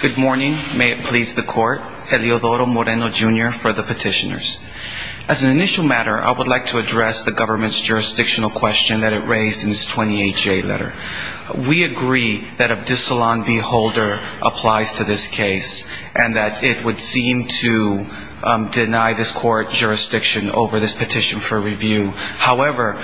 Good morning. May it please the court. Eliodoro Moreno, Jr. for the petitioners. As an initial matter, I would like to address the government's jurisdictional question that it raised in its 28-J letter. We agree that Abdissalon v. Holder applies to this case and that it would seem to deny this court jurisdiction over this petition for review. However,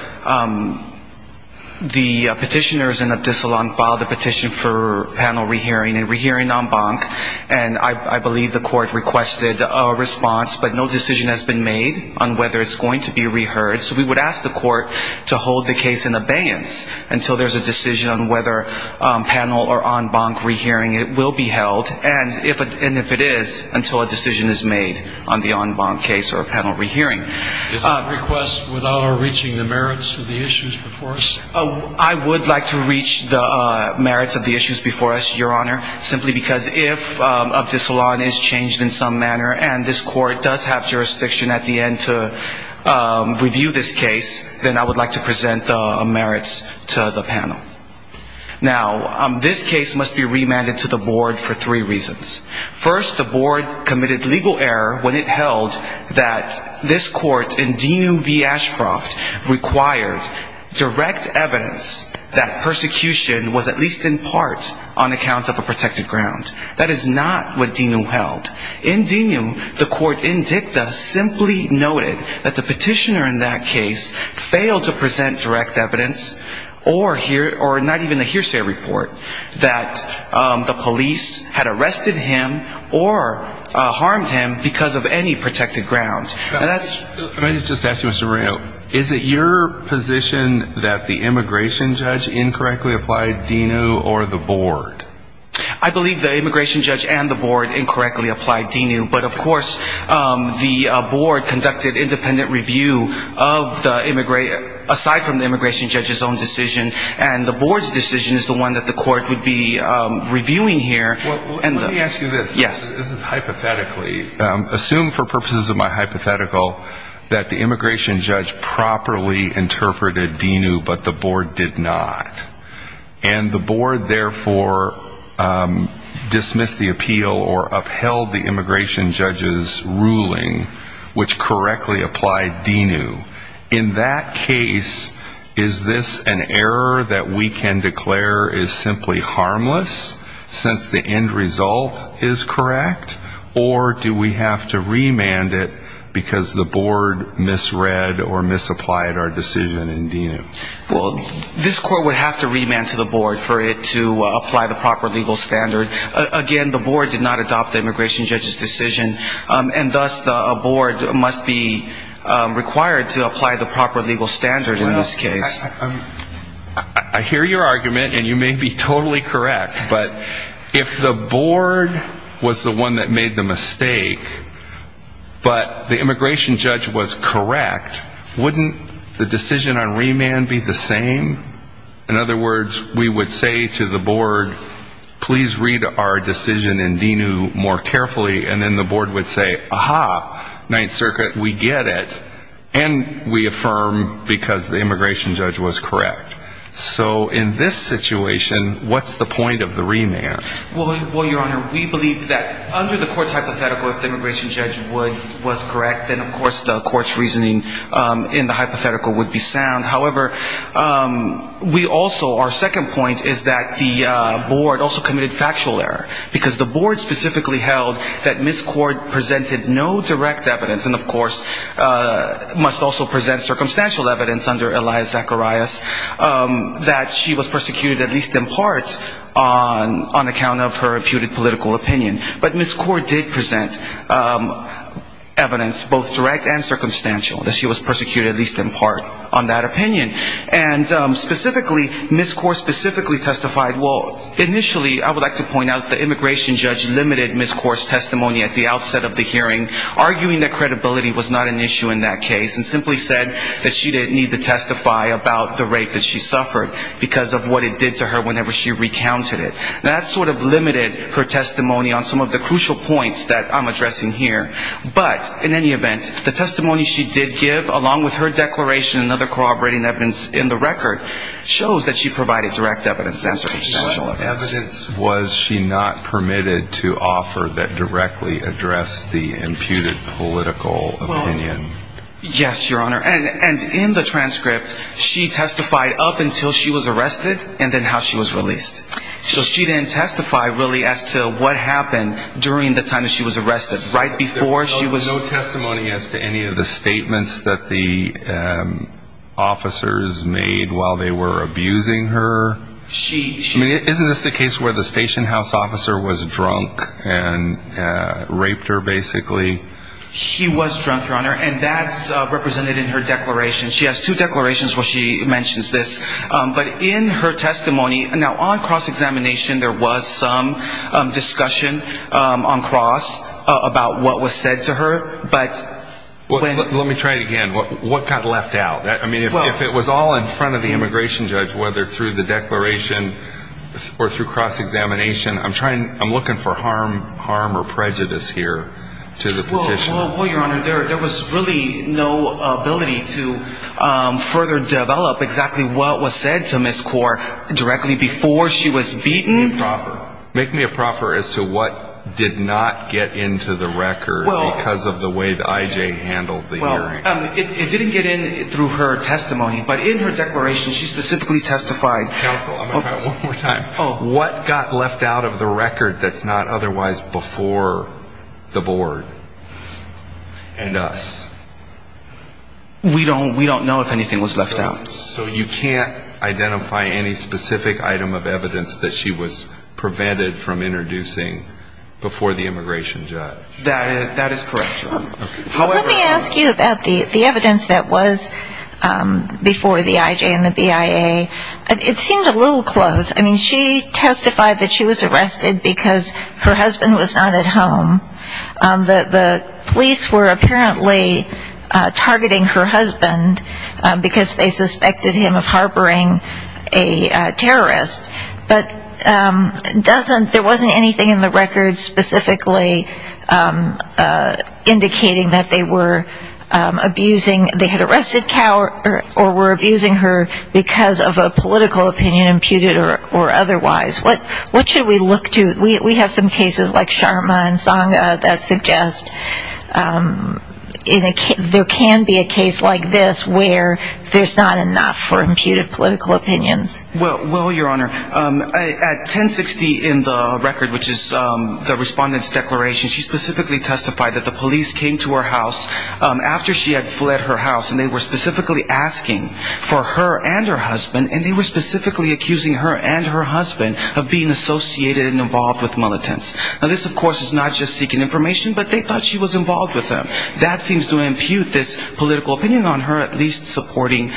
the petitioners in Abdissalon filed a petition for panel re-hearing and re-hearing en banc, and I believe the court requested a response, but no decision has been made on whether it's going to be re-heard. So we would ask the court to hold the case in abeyance until there's a decision on whether panel or en banc re-hearing will be held, and if it is, until a decision is made on the en banc case or panel re-hearing. Is that a request without our reaching the merits of the issues before us? I would like to reach the merits of the issues before us, Your Honor, simply because if Abdissalon is changed in some manner and this court does have jurisdiction at the end to review this case, then I would like to present the merits to the panel. Now, this case must be remanded to the board for three reasons. First, the board committed legal error when it held that this court in Dinu v. Ashcroft required direct evidence that persecution was at least in part on account of a protected ground. That is not what Dinu held. In Dinu, the court in dicta simply noted that the petitioner in that case failed to present direct evidence or not even a hearsay report that the police had arrested him or harmed him because of any protected ground. Can I just ask you, Mr. Rayo, is it your position that the immigration judge incorrectly applied Dinu or the board? I believe the immigration judge and the board incorrectly applied Dinu. But, of course, the board conducted independent review aside from the immigration judge's own decision, and the board's decision is the one that the court would be reviewing here. Let me ask you this. Yes. This is hypothetically. Assume for purposes of my hypothetical that the immigration judge properly interpreted Dinu, but the board did not. And the board, therefore, dismissed the appeal or upheld the immigration judge's ruling, which correctly applied Dinu. In that case, is this an error that we can declare is simply harmless since the end result is correct? Or do we have to remand it because the board misread or misapplied our decision in Dinu? Well, this court would have to remand to the board for it to apply the proper legal standard. Again, the board did not adopt the immigration judge's decision, and thus a board must be required to apply the proper legal standard in this case. I hear your argument, and you may be totally correct. But if the board was the one that made the mistake, but the immigration judge was correct, wouldn't the decision on remand be the same? In other words, we would say to the board, please read our decision in Dinu more carefully. And then the board would say, aha, Ninth Circuit, we get it, and we affirm because the immigration judge was correct. So in this situation, what's the point of the remand? Well, Your Honor, we believe that under the court's hypothetical, if the immigration judge was correct, then, of course, the court's reasoning in the hypothetical would be sound. However, we also, our second point is that the board also committed factual error. Because the board specifically held that Ms. Cord presented no direct evidence, and, of course, must also present circumstantial evidence under Elias Zacharias, that she was persecuted at least in part on account of her imputed political opinion. But Ms. Cord did present evidence, both direct and circumstantial, that she was persecuted at least in part on that opinion. And specifically, Ms. Cord specifically testified, well, initially, I would like to point out the immigration judge limited Ms. Cord's testimony at the outset of the hearing, arguing that credibility was not an issue in that case, and simply said that she didn't need to testify about the rape that she suffered because of what it did to her whenever she recounted it. That sort of limited her testimony on some of the crucial points that I'm addressing here. But, in any event, the testimony she did give, along with her declaration and other corroborating evidence in the record, shows that she provided direct evidence, circumstantial evidence. What evidence was she not permitted to offer that directly addressed the imputed political opinion? Yes, Your Honor, and in the transcript, she testified up until she was arrested, and then how she was released. So she didn't testify, really, as to what happened during the time that she was arrested. Right before she was... No testimony as to any of the statements that the officers made while they were abusing her? She... I mean, isn't this the case where the station house officer was drunk and raped her, basically? She was drunk, Your Honor, and that's represented in her declaration. She has two declarations where she mentions this. But in her testimony, now on cross-examination, there was some discussion on cross about what was said to her, but... Let me try it again. What got left out? I mean, if it was all in front of the immigration judge, whether through the declaration or through cross-examination, I'm looking for harm or prejudice here to the petitioner. Well, Your Honor, there was really no ability to further develop exactly what was said to Ms. Kaur directly before she was beaten. Make me a proffer. Make me a proffer as to what did not get into the record because of the way that I.J. handled the hearing. Well, it didn't get in through her testimony, but in her declaration, she specifically testified... Counsel, I'm going to try it one more time. What got left out of the record that's not otherwise before the board and us? We don't know if anything was left out. So you can't identify any specific item of evidence that she was prevented from introducing before the immigration judge? That is correct, Your Honor. Let me ask you about the evidence that was before the I.J. and the BIA. It seemed a little close. I mean, she testified that she was arrested because her husband was not at home. The police were apparently targeting her husband because they suspected him of harboring a terrorist, but there wasn't anything in the record specifically indicating that they were abusing... they had arrested Kaur or were abusing her because of a political opinion imputed or otherwise. What should we look to? We have some cases like Sharma and Sangha that suggest there can be a case like this where there's not enough for imputed political opinions. Well, Your Honor, at 1060 in the record, which is the respondent's declaration, she specifically testified that the police came to her house after she had fled her house, and they were specifically asking for her and her husband, and they were specifically accusing her and her husband of being associated and involved with militants. Now, this, of course, is not just seeking information, but they thought she was involved with them. That seems to impute this political opinion on her at least supporting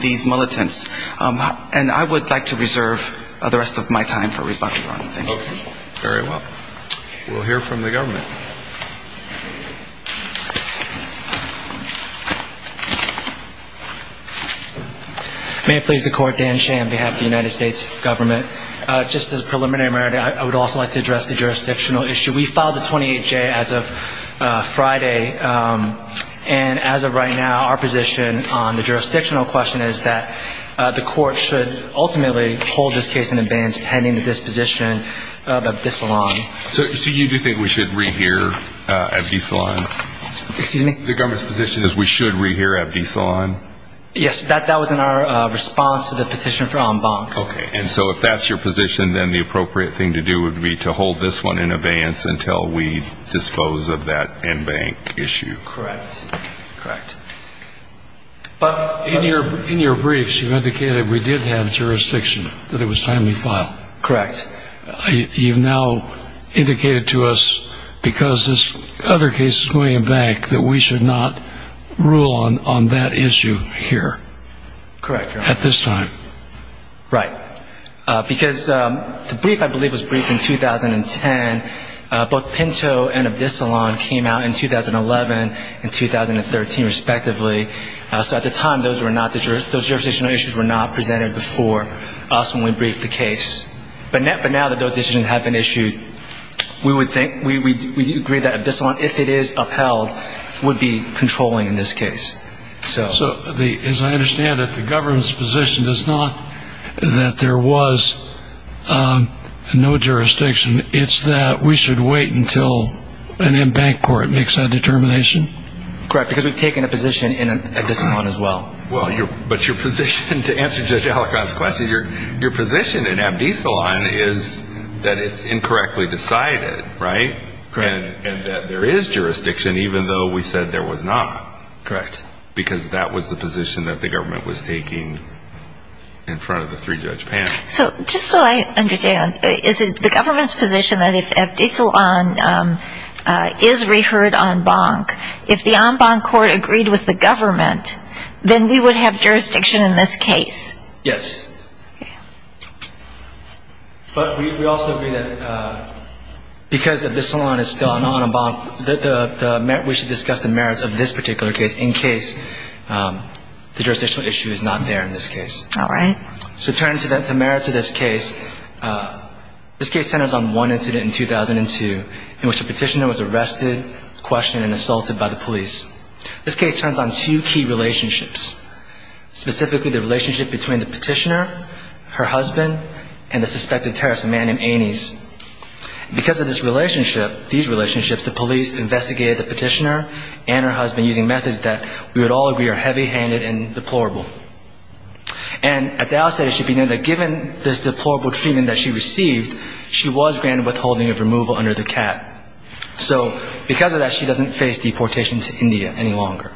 these militants. And I would like to reserve the rest of my time for rebuttal, Your Honor. Thank you. Very well. We'll hear from the government. May it please the Court, Dan Shea on behalf of the United States government. Just as a preliminary matter, I would also like to address the jurisdictional issue. We filed a 28-J as of Friday, and as of right now, our position on the jurisdictional question is that the Court should ultimately hold this case in abeyance pending the disposition of Abdisalaam. So you do think we should rehear Abdisalaam? Excuse me? The government's position is we should rehear Abdisalaam? Yes, that was in our response to the petition for en banc. Okay. And so if that's your position, then the appropriate thing to do would be to hold this one in abeyance until we dispose of that en banc issue. Correct. Correct. But in your briefs, you indicated we did have jurisdiction, that it was timely filed. Correct. You've now indicated to us, because this other case is going en banc, that we should not rule on that issue here. Correct, Your Honor. At this time. Right. Because the brief, I believe, was briefed in 2010. Both Pinto and Abdisalaam came out in 2011 and 2013, respectively. So at the time, those jurisdictional issues were not presented before us when we briefed the case. But now that those decisions have been issued, we agree that Abdisalaam, if it is upheld, would be controlling in this case. So as I understand it, the government's position is not that there was no jurisdiction. It's that we should wait until an en banc court makes that determination? Correct. Because we've taken a position in Abdisalaam as well. But your position, to answer Judge Allecon's question, your position in Abdisalaam is that it's incorrectly decided, right? Correct. And that there is jurisdiction, even though we said there was not. Correct. Because that was the position that the government was taking in front of the three-judge panel. So just so I understand, is it the government's position that if Abdisalaam is reheard en banc, if the en banc court agreed with the government, then we would have jurisdiction in this case? Yes. Okay. But we also agree that because Abdisalaam is still an en banc, we should discuss the merits of this particular case in case the jurisdictional issue is not there in this case. All right. So turning to the merits of this case, this case centers on one incident in 2002 in which a petitioner was arrested, questioned, and assaulted by the police. This case turns on two key relationships, specifically the relationship between the petitioner, her husband, and the suspected terrorist, a man named Ainees. Because of this relationship, these relationships, the police investigated the petitioner and her husband using methods that we would all agree are heavy-handed and deplorable. And at the outset, it should be noted that given this deplorable treatment that she received, she was granted withholding of removal under the cap. So because of that, she doesn't face deportation to India any longer.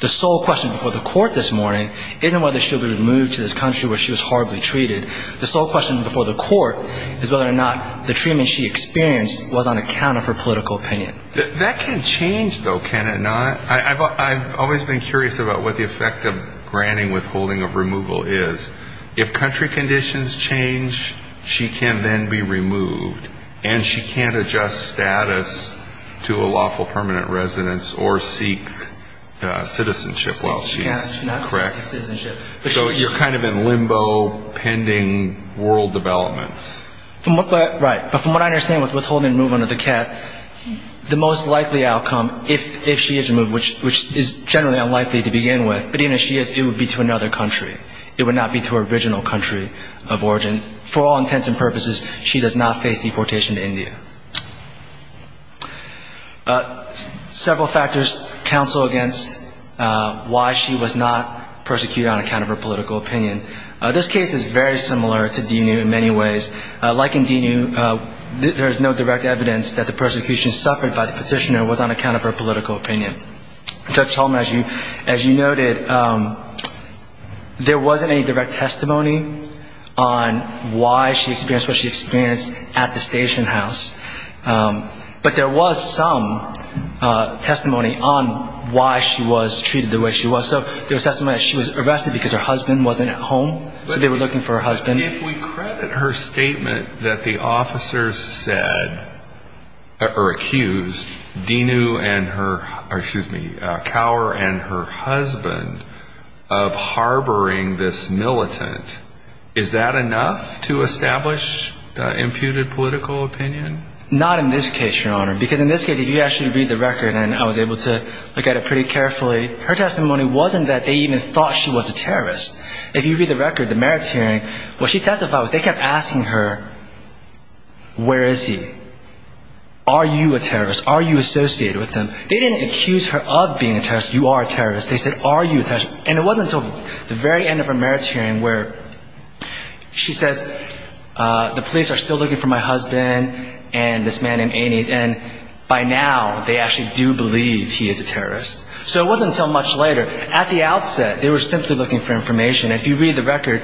The sole question before the court this morning isn't whether she'll be removed to this country where she was horribly treated. The sole question before the court is whether or not the treatment she experienced was on account of her political opinion. That can change, though, can it not? I've always been curious about what the effect of granting withholding of removal is. If country conditions change, she can then be removed, and she can't adjust status to a lawful permanent residence or seek citizenship while she's correct. She's not going to seek citizenship. So you're kind of in limbo, pending world developments. Right. But from what I understand with withholding removal under the cap, the most likely outcome, if she is removed, which is generally unlikely to begin with, but even if she is, it would be to another country. It would not be to her original country of origin. For all intents and purposes, she does not face deportation to India. Several factors counsel against why she was not persecuted on account of her political opinion. This case is very similar to Dinu in many ways. Like in Dinu, there is no direct evidence that the persecution suffered by the petitioner was on account of her political opinion. Judge Solomon, as you noted, there wasn't any direct testimony on why she experienced what she experienced at the station house. But there was some testimony on why she was treated the way she was. So there was testimony that she was arrested because her husband wasn't at home, so they were looking for her husband. If we credit her statement that the officers said or accused Dinu and her, or excuse me, Kaur and her husband of harboring this militant, is that enough to establish the imputed political opinion? Not in this case, Your Honor, because in this case, if you actually read the record, and I was able to look at it pretty carefully, her testimony wasn't that they even thought she was a terrorist. If you read the record, the merits hearing, what she testified was they kept asking her, where is he? Are you a terrorist? Are you associated with him? They didn't accuse her of being a terrorist, you are a terrorist. They said, are you a terrorist? And it wasn't until the very end of her merits hearing where she says, the police are still looking for my husband and this man named Anees, and by now they actually do believe he is a terrorist. So it wasn't until much later, at the outset, they were simply looking for information. If you read the record,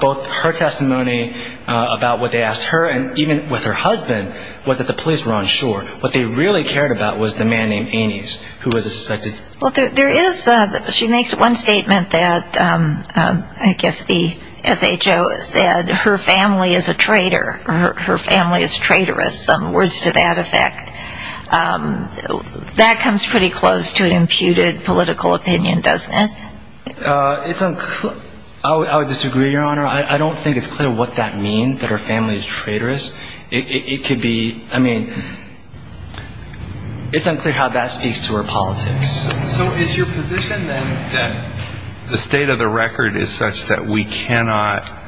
both her testimony about what they asked her, and even with her husband, was that the police were on shore. What they really cared about was the man named Anees, who was suspected. Well, there is, she makes one statement that I guess the SHO said her family is a traitor, her family is traitorous, words to that effect. That comes pretty close to an imputed political opinion, doesn't it? I would disagree, Your Honor. I don't think it's clear what that means, that her family is traitorous. It could be, I mean, it's unclear how that speaks to her politics. So is your position then that the state of the record is such that we cannot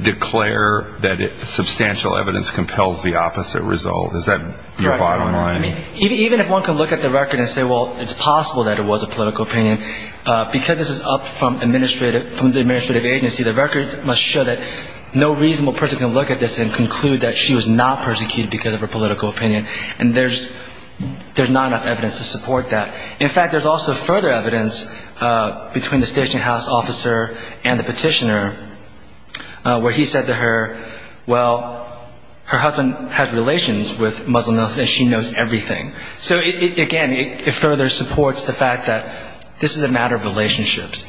declare that substantial evidence compels the opposite result? Is that your bottom line? Even if one can look at the record and say, well, it's possible that it was a political opinion, because this is up from the administrative agency, the record must show that no reasonable person can look at this and conclude that she was not persecuted because of her political opinion. And there's not enough evidence to support that. In fact, there's also further evidence between the station house officer and the petitioner where he said to her, well, her husband has relations with Muslims and she knows everything. So again, it further supports the fact that this is a matter of relationships.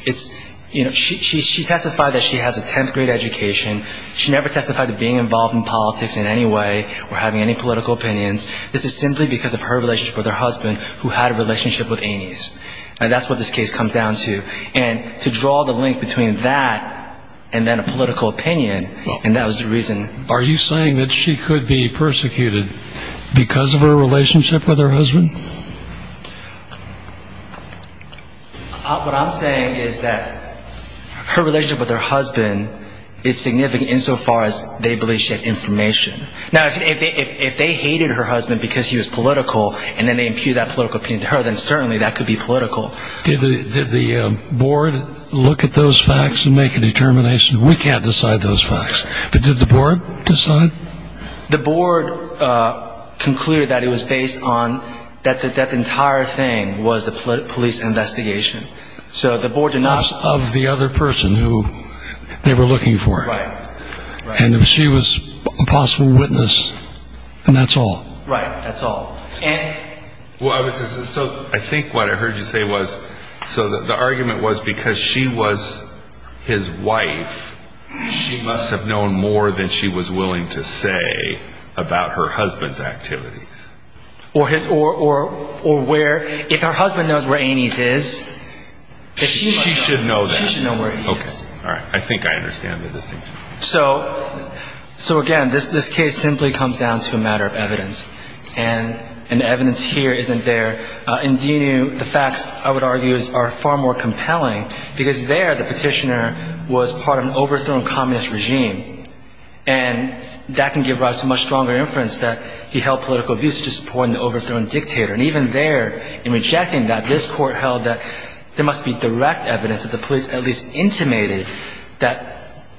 She testified that she has a 10th grade education. She never testified to being involved in politics in any way or having any political opinions. This is simply because of her relationship with her husband, who had a relationship with Amy's. And that's what this case comes down to. And to draw the link between that and then a political opinion, and that was the reason. Are you saying that she could be persecuted because of her relationship with her husband? What I'm saying is that her relationship with her husband is significant insofar as they believe she has information. Now, if they hated her husband because he was political, and then they impute that political opinion to her, then certainly that could be political. Did the board look at those facts and make a determination? We can't decide those facts. But did the board decide? The board concluded that it was based on that the entire thing was a police investigation. So the board did not... It was of the other person who they were looking for. Right. And if she was a possible witness, then that's all. Right, that's all. And... So I think what I heard you say was, so the argument was because she was his wife, she must have known more than she was willing to say about her husband's activities. Or where... If her husband knows where Aines is... She should know that. She should know where he is. Okay, all right. I think I understand the distinction. So, again, this case simply comes down to a matter of evidence. And the evidence here isn't there. Indeed, the facts, I would argue, are far more compelling, because there the petitioner was part of an overthrown communist regime. And that can give rise to much stronger inference that he held political views, such as supporting the overthrown dictator. And even there, in rejecting that, this court held that there must be direct evidence that the police at least intimated that...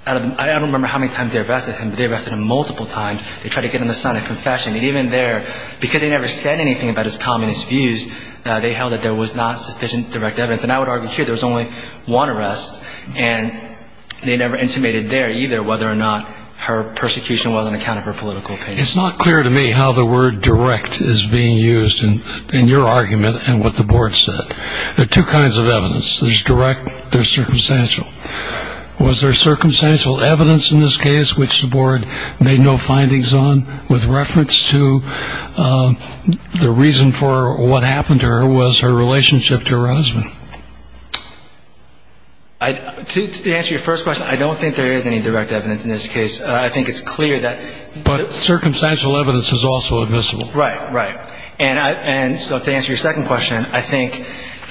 I don't remember how many times they arrested him, but they arrested him multiple times. They tried to get him to sign a confession. And even there, because they never said anything about his communist views, they held that there was not sufficient direct evidence. And I would argue here there was only one arrest. And they never intimated there, either, whether or not her persecution was on account of her political opinions. It's not clear to me how the word direct is being used in your argument and what the board said. There are two kinds of evidence. There's direct. There's circumstantial. Was there circumstantial evidence in this case which the board made no findings on with reference to the reason for what happened to her was her relationship to her husband? To answer your first question, I don't think there is any direct evidence in this case. I think it's clear that... But circumstantial evidence is also admissible. Right, right. And so to answer your second question, I think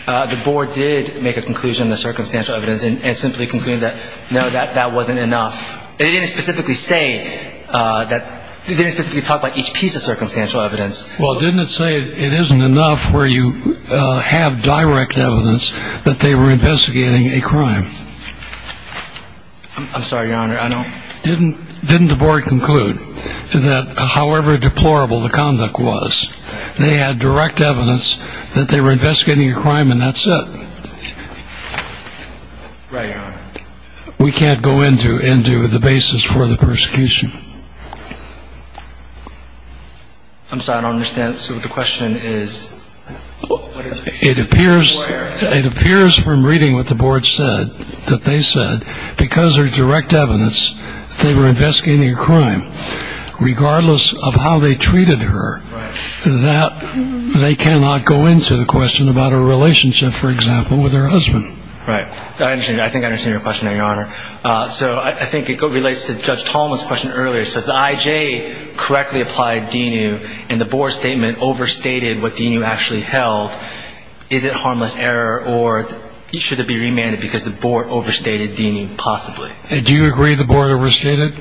the board did make a conclusion in the circumstantial evidence and simply concluded that, no, that wasn't enough. It didn't specifically say that... It didn't specifically talk about each piece of circumstantial evidence. Well, didn't it say it isn't enough where you have direct evidence that they were investigating a crime? I'm sorry, Your Honor, I don't... Didn't the board conclude that however deplorable the conduct was, they had direct evidence that they were investigating a crime and that's it? Right, Your Honor. We can't go into the basis for the persecution. I'm sorry, I don't understand. So the question is... It appears from reading what the board said that they said, because there's direct evidence they were investigating a crime, regardless of how they treated her, that they cannot go into the question about her relationship, for example, with her husband. Right. I think I understand your question now, Your Honor. So I think it relates to Judge Tolman's question earlier. So if the I.J. correctly applied DENU and the board statement overstated what DENU actually held, is it harmless error or should it be remanded because the board overstated DENU possibly? Do you agree the board overstated?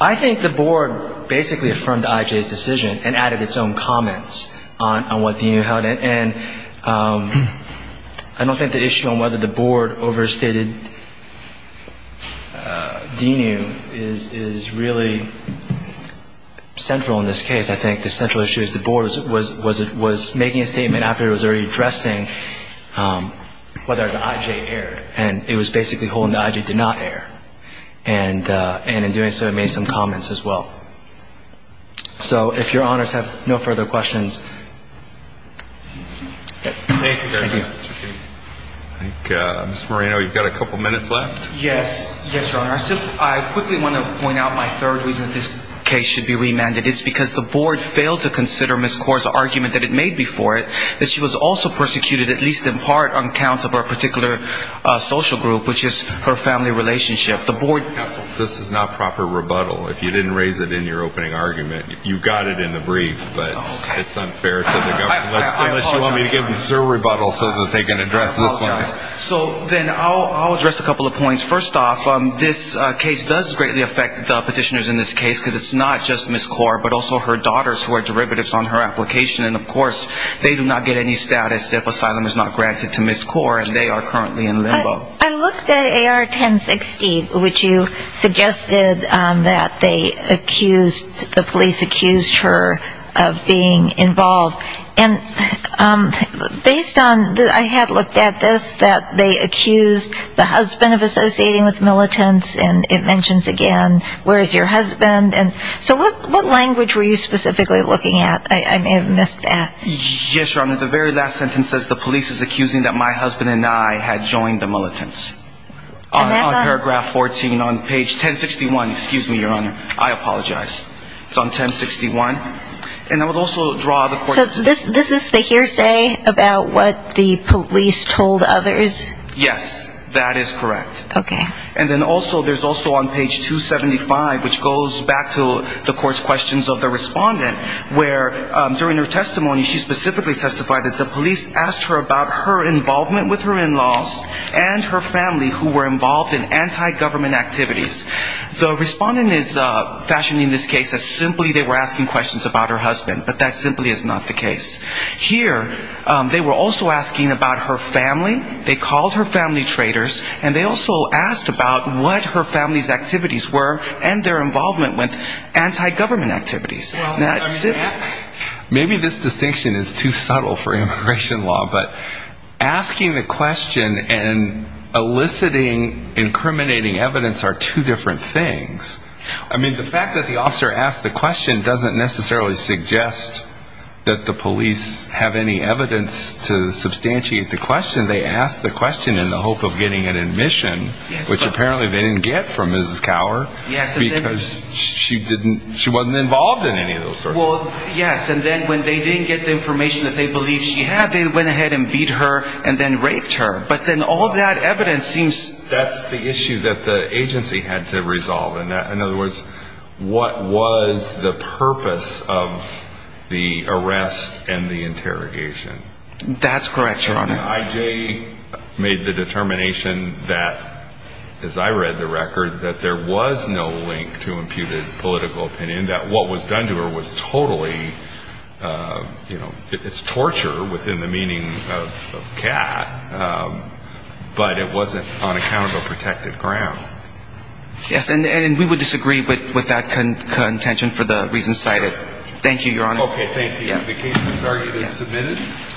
I think the board basically affirmed the I.J.'s decision and added its own comments on what DENU held. And I don't think the issue on whether the board overstated DENU is really central in this case. I think the central issue is the board was making a statement after it was already addressing whether the I.J. erred, and it was basically holding the I.J. did not err. And in doing so, it made some comments as well. So if Your Honors have no further questions. Thank you. Ms. Moreno, you've got a couple minutes left. Yes. Yes, Your Honor. I quickly want to point out my third reason this case should be remanded. It's because the board failed to consider Ms. Kaur's argument that it made before it that she was also persecuted, at least in part, on accounts of her particular social group, which is her family relationship. This is not proper rebuttal. If you didn't raise it in your opening argument, you got it in the brief. But it's unfair to the government. Unless you want me to give them some rebuttal so that they can address this one. So then I'll address a couple of points. First off, this case does greatly affect the petitioners in this case because it's not just Ms. Kaur, but also her daughters who are derivatives on her application. And, of course, they do not get any status if asylum is not granted to Ms. Kaur, and they are currently in limbo. I looked at AR 1016, which you suggested that they accused, the police accused her of being involved. And based on, I had looked at this, that they accused the husband of associating with militants, and it mentions again where is your husband. So what language were you specifically looking at? I may have missed that. Yes, Your Honor. The very last sentence says the police is accusing that my husband and I had joined the militants. On paragraph 14, on page 1061, excuse me, Your Honor. I apologize. It's on 1061. And I would also draw the court. So this is the hearsay about what the police told others? Yes. That is correct. Okay. And then also, there's also on page 275, which goes back to the court's questions of the respondent, where during her testimony, she specifically testified that the police asked her about her involvement with her in-laws and her family who were involved in anti-government activities. The respondent is fashioning this case as simply they were asking questions about her husband, but that simply is not the case. Here, they were also asking about her family. They called her family traitors, and they also asked about what her family's activities were and their involvement with anti-government activities. Maybe this distinction is too subtle for immigration law, but asking the question and eliciting incriminating evidence are two different things. I mean, the fact that the officer asked the question doesn't necessarily suggest that the police have any evidence to substantiate the question. They asked the question in the hope of getting an admission, which apparently they didn't get from Mrs. Cowher because she wasn't involved in any of those sorts of things. Well, yes, and then when they didn't get the information that they believed she had, they went ahead and beat her and then raped her. But then all that evidence seems to be... That's the issue that the agency had to resolve. In other words, what was the purpose of the arrest and the interrogation? That's correct, Your Honor. And then I.J. made the determination that, as I read the record, that there was no link to imputed political opinion, that what was done to her was totally, you know, it's torture within the meaning of cat, but it wasn't on account of a protected ground. Yes, and we would disagree with that contention for the reasons cited. Thank you, Your Honor. Okay, thank you. The case is submitted.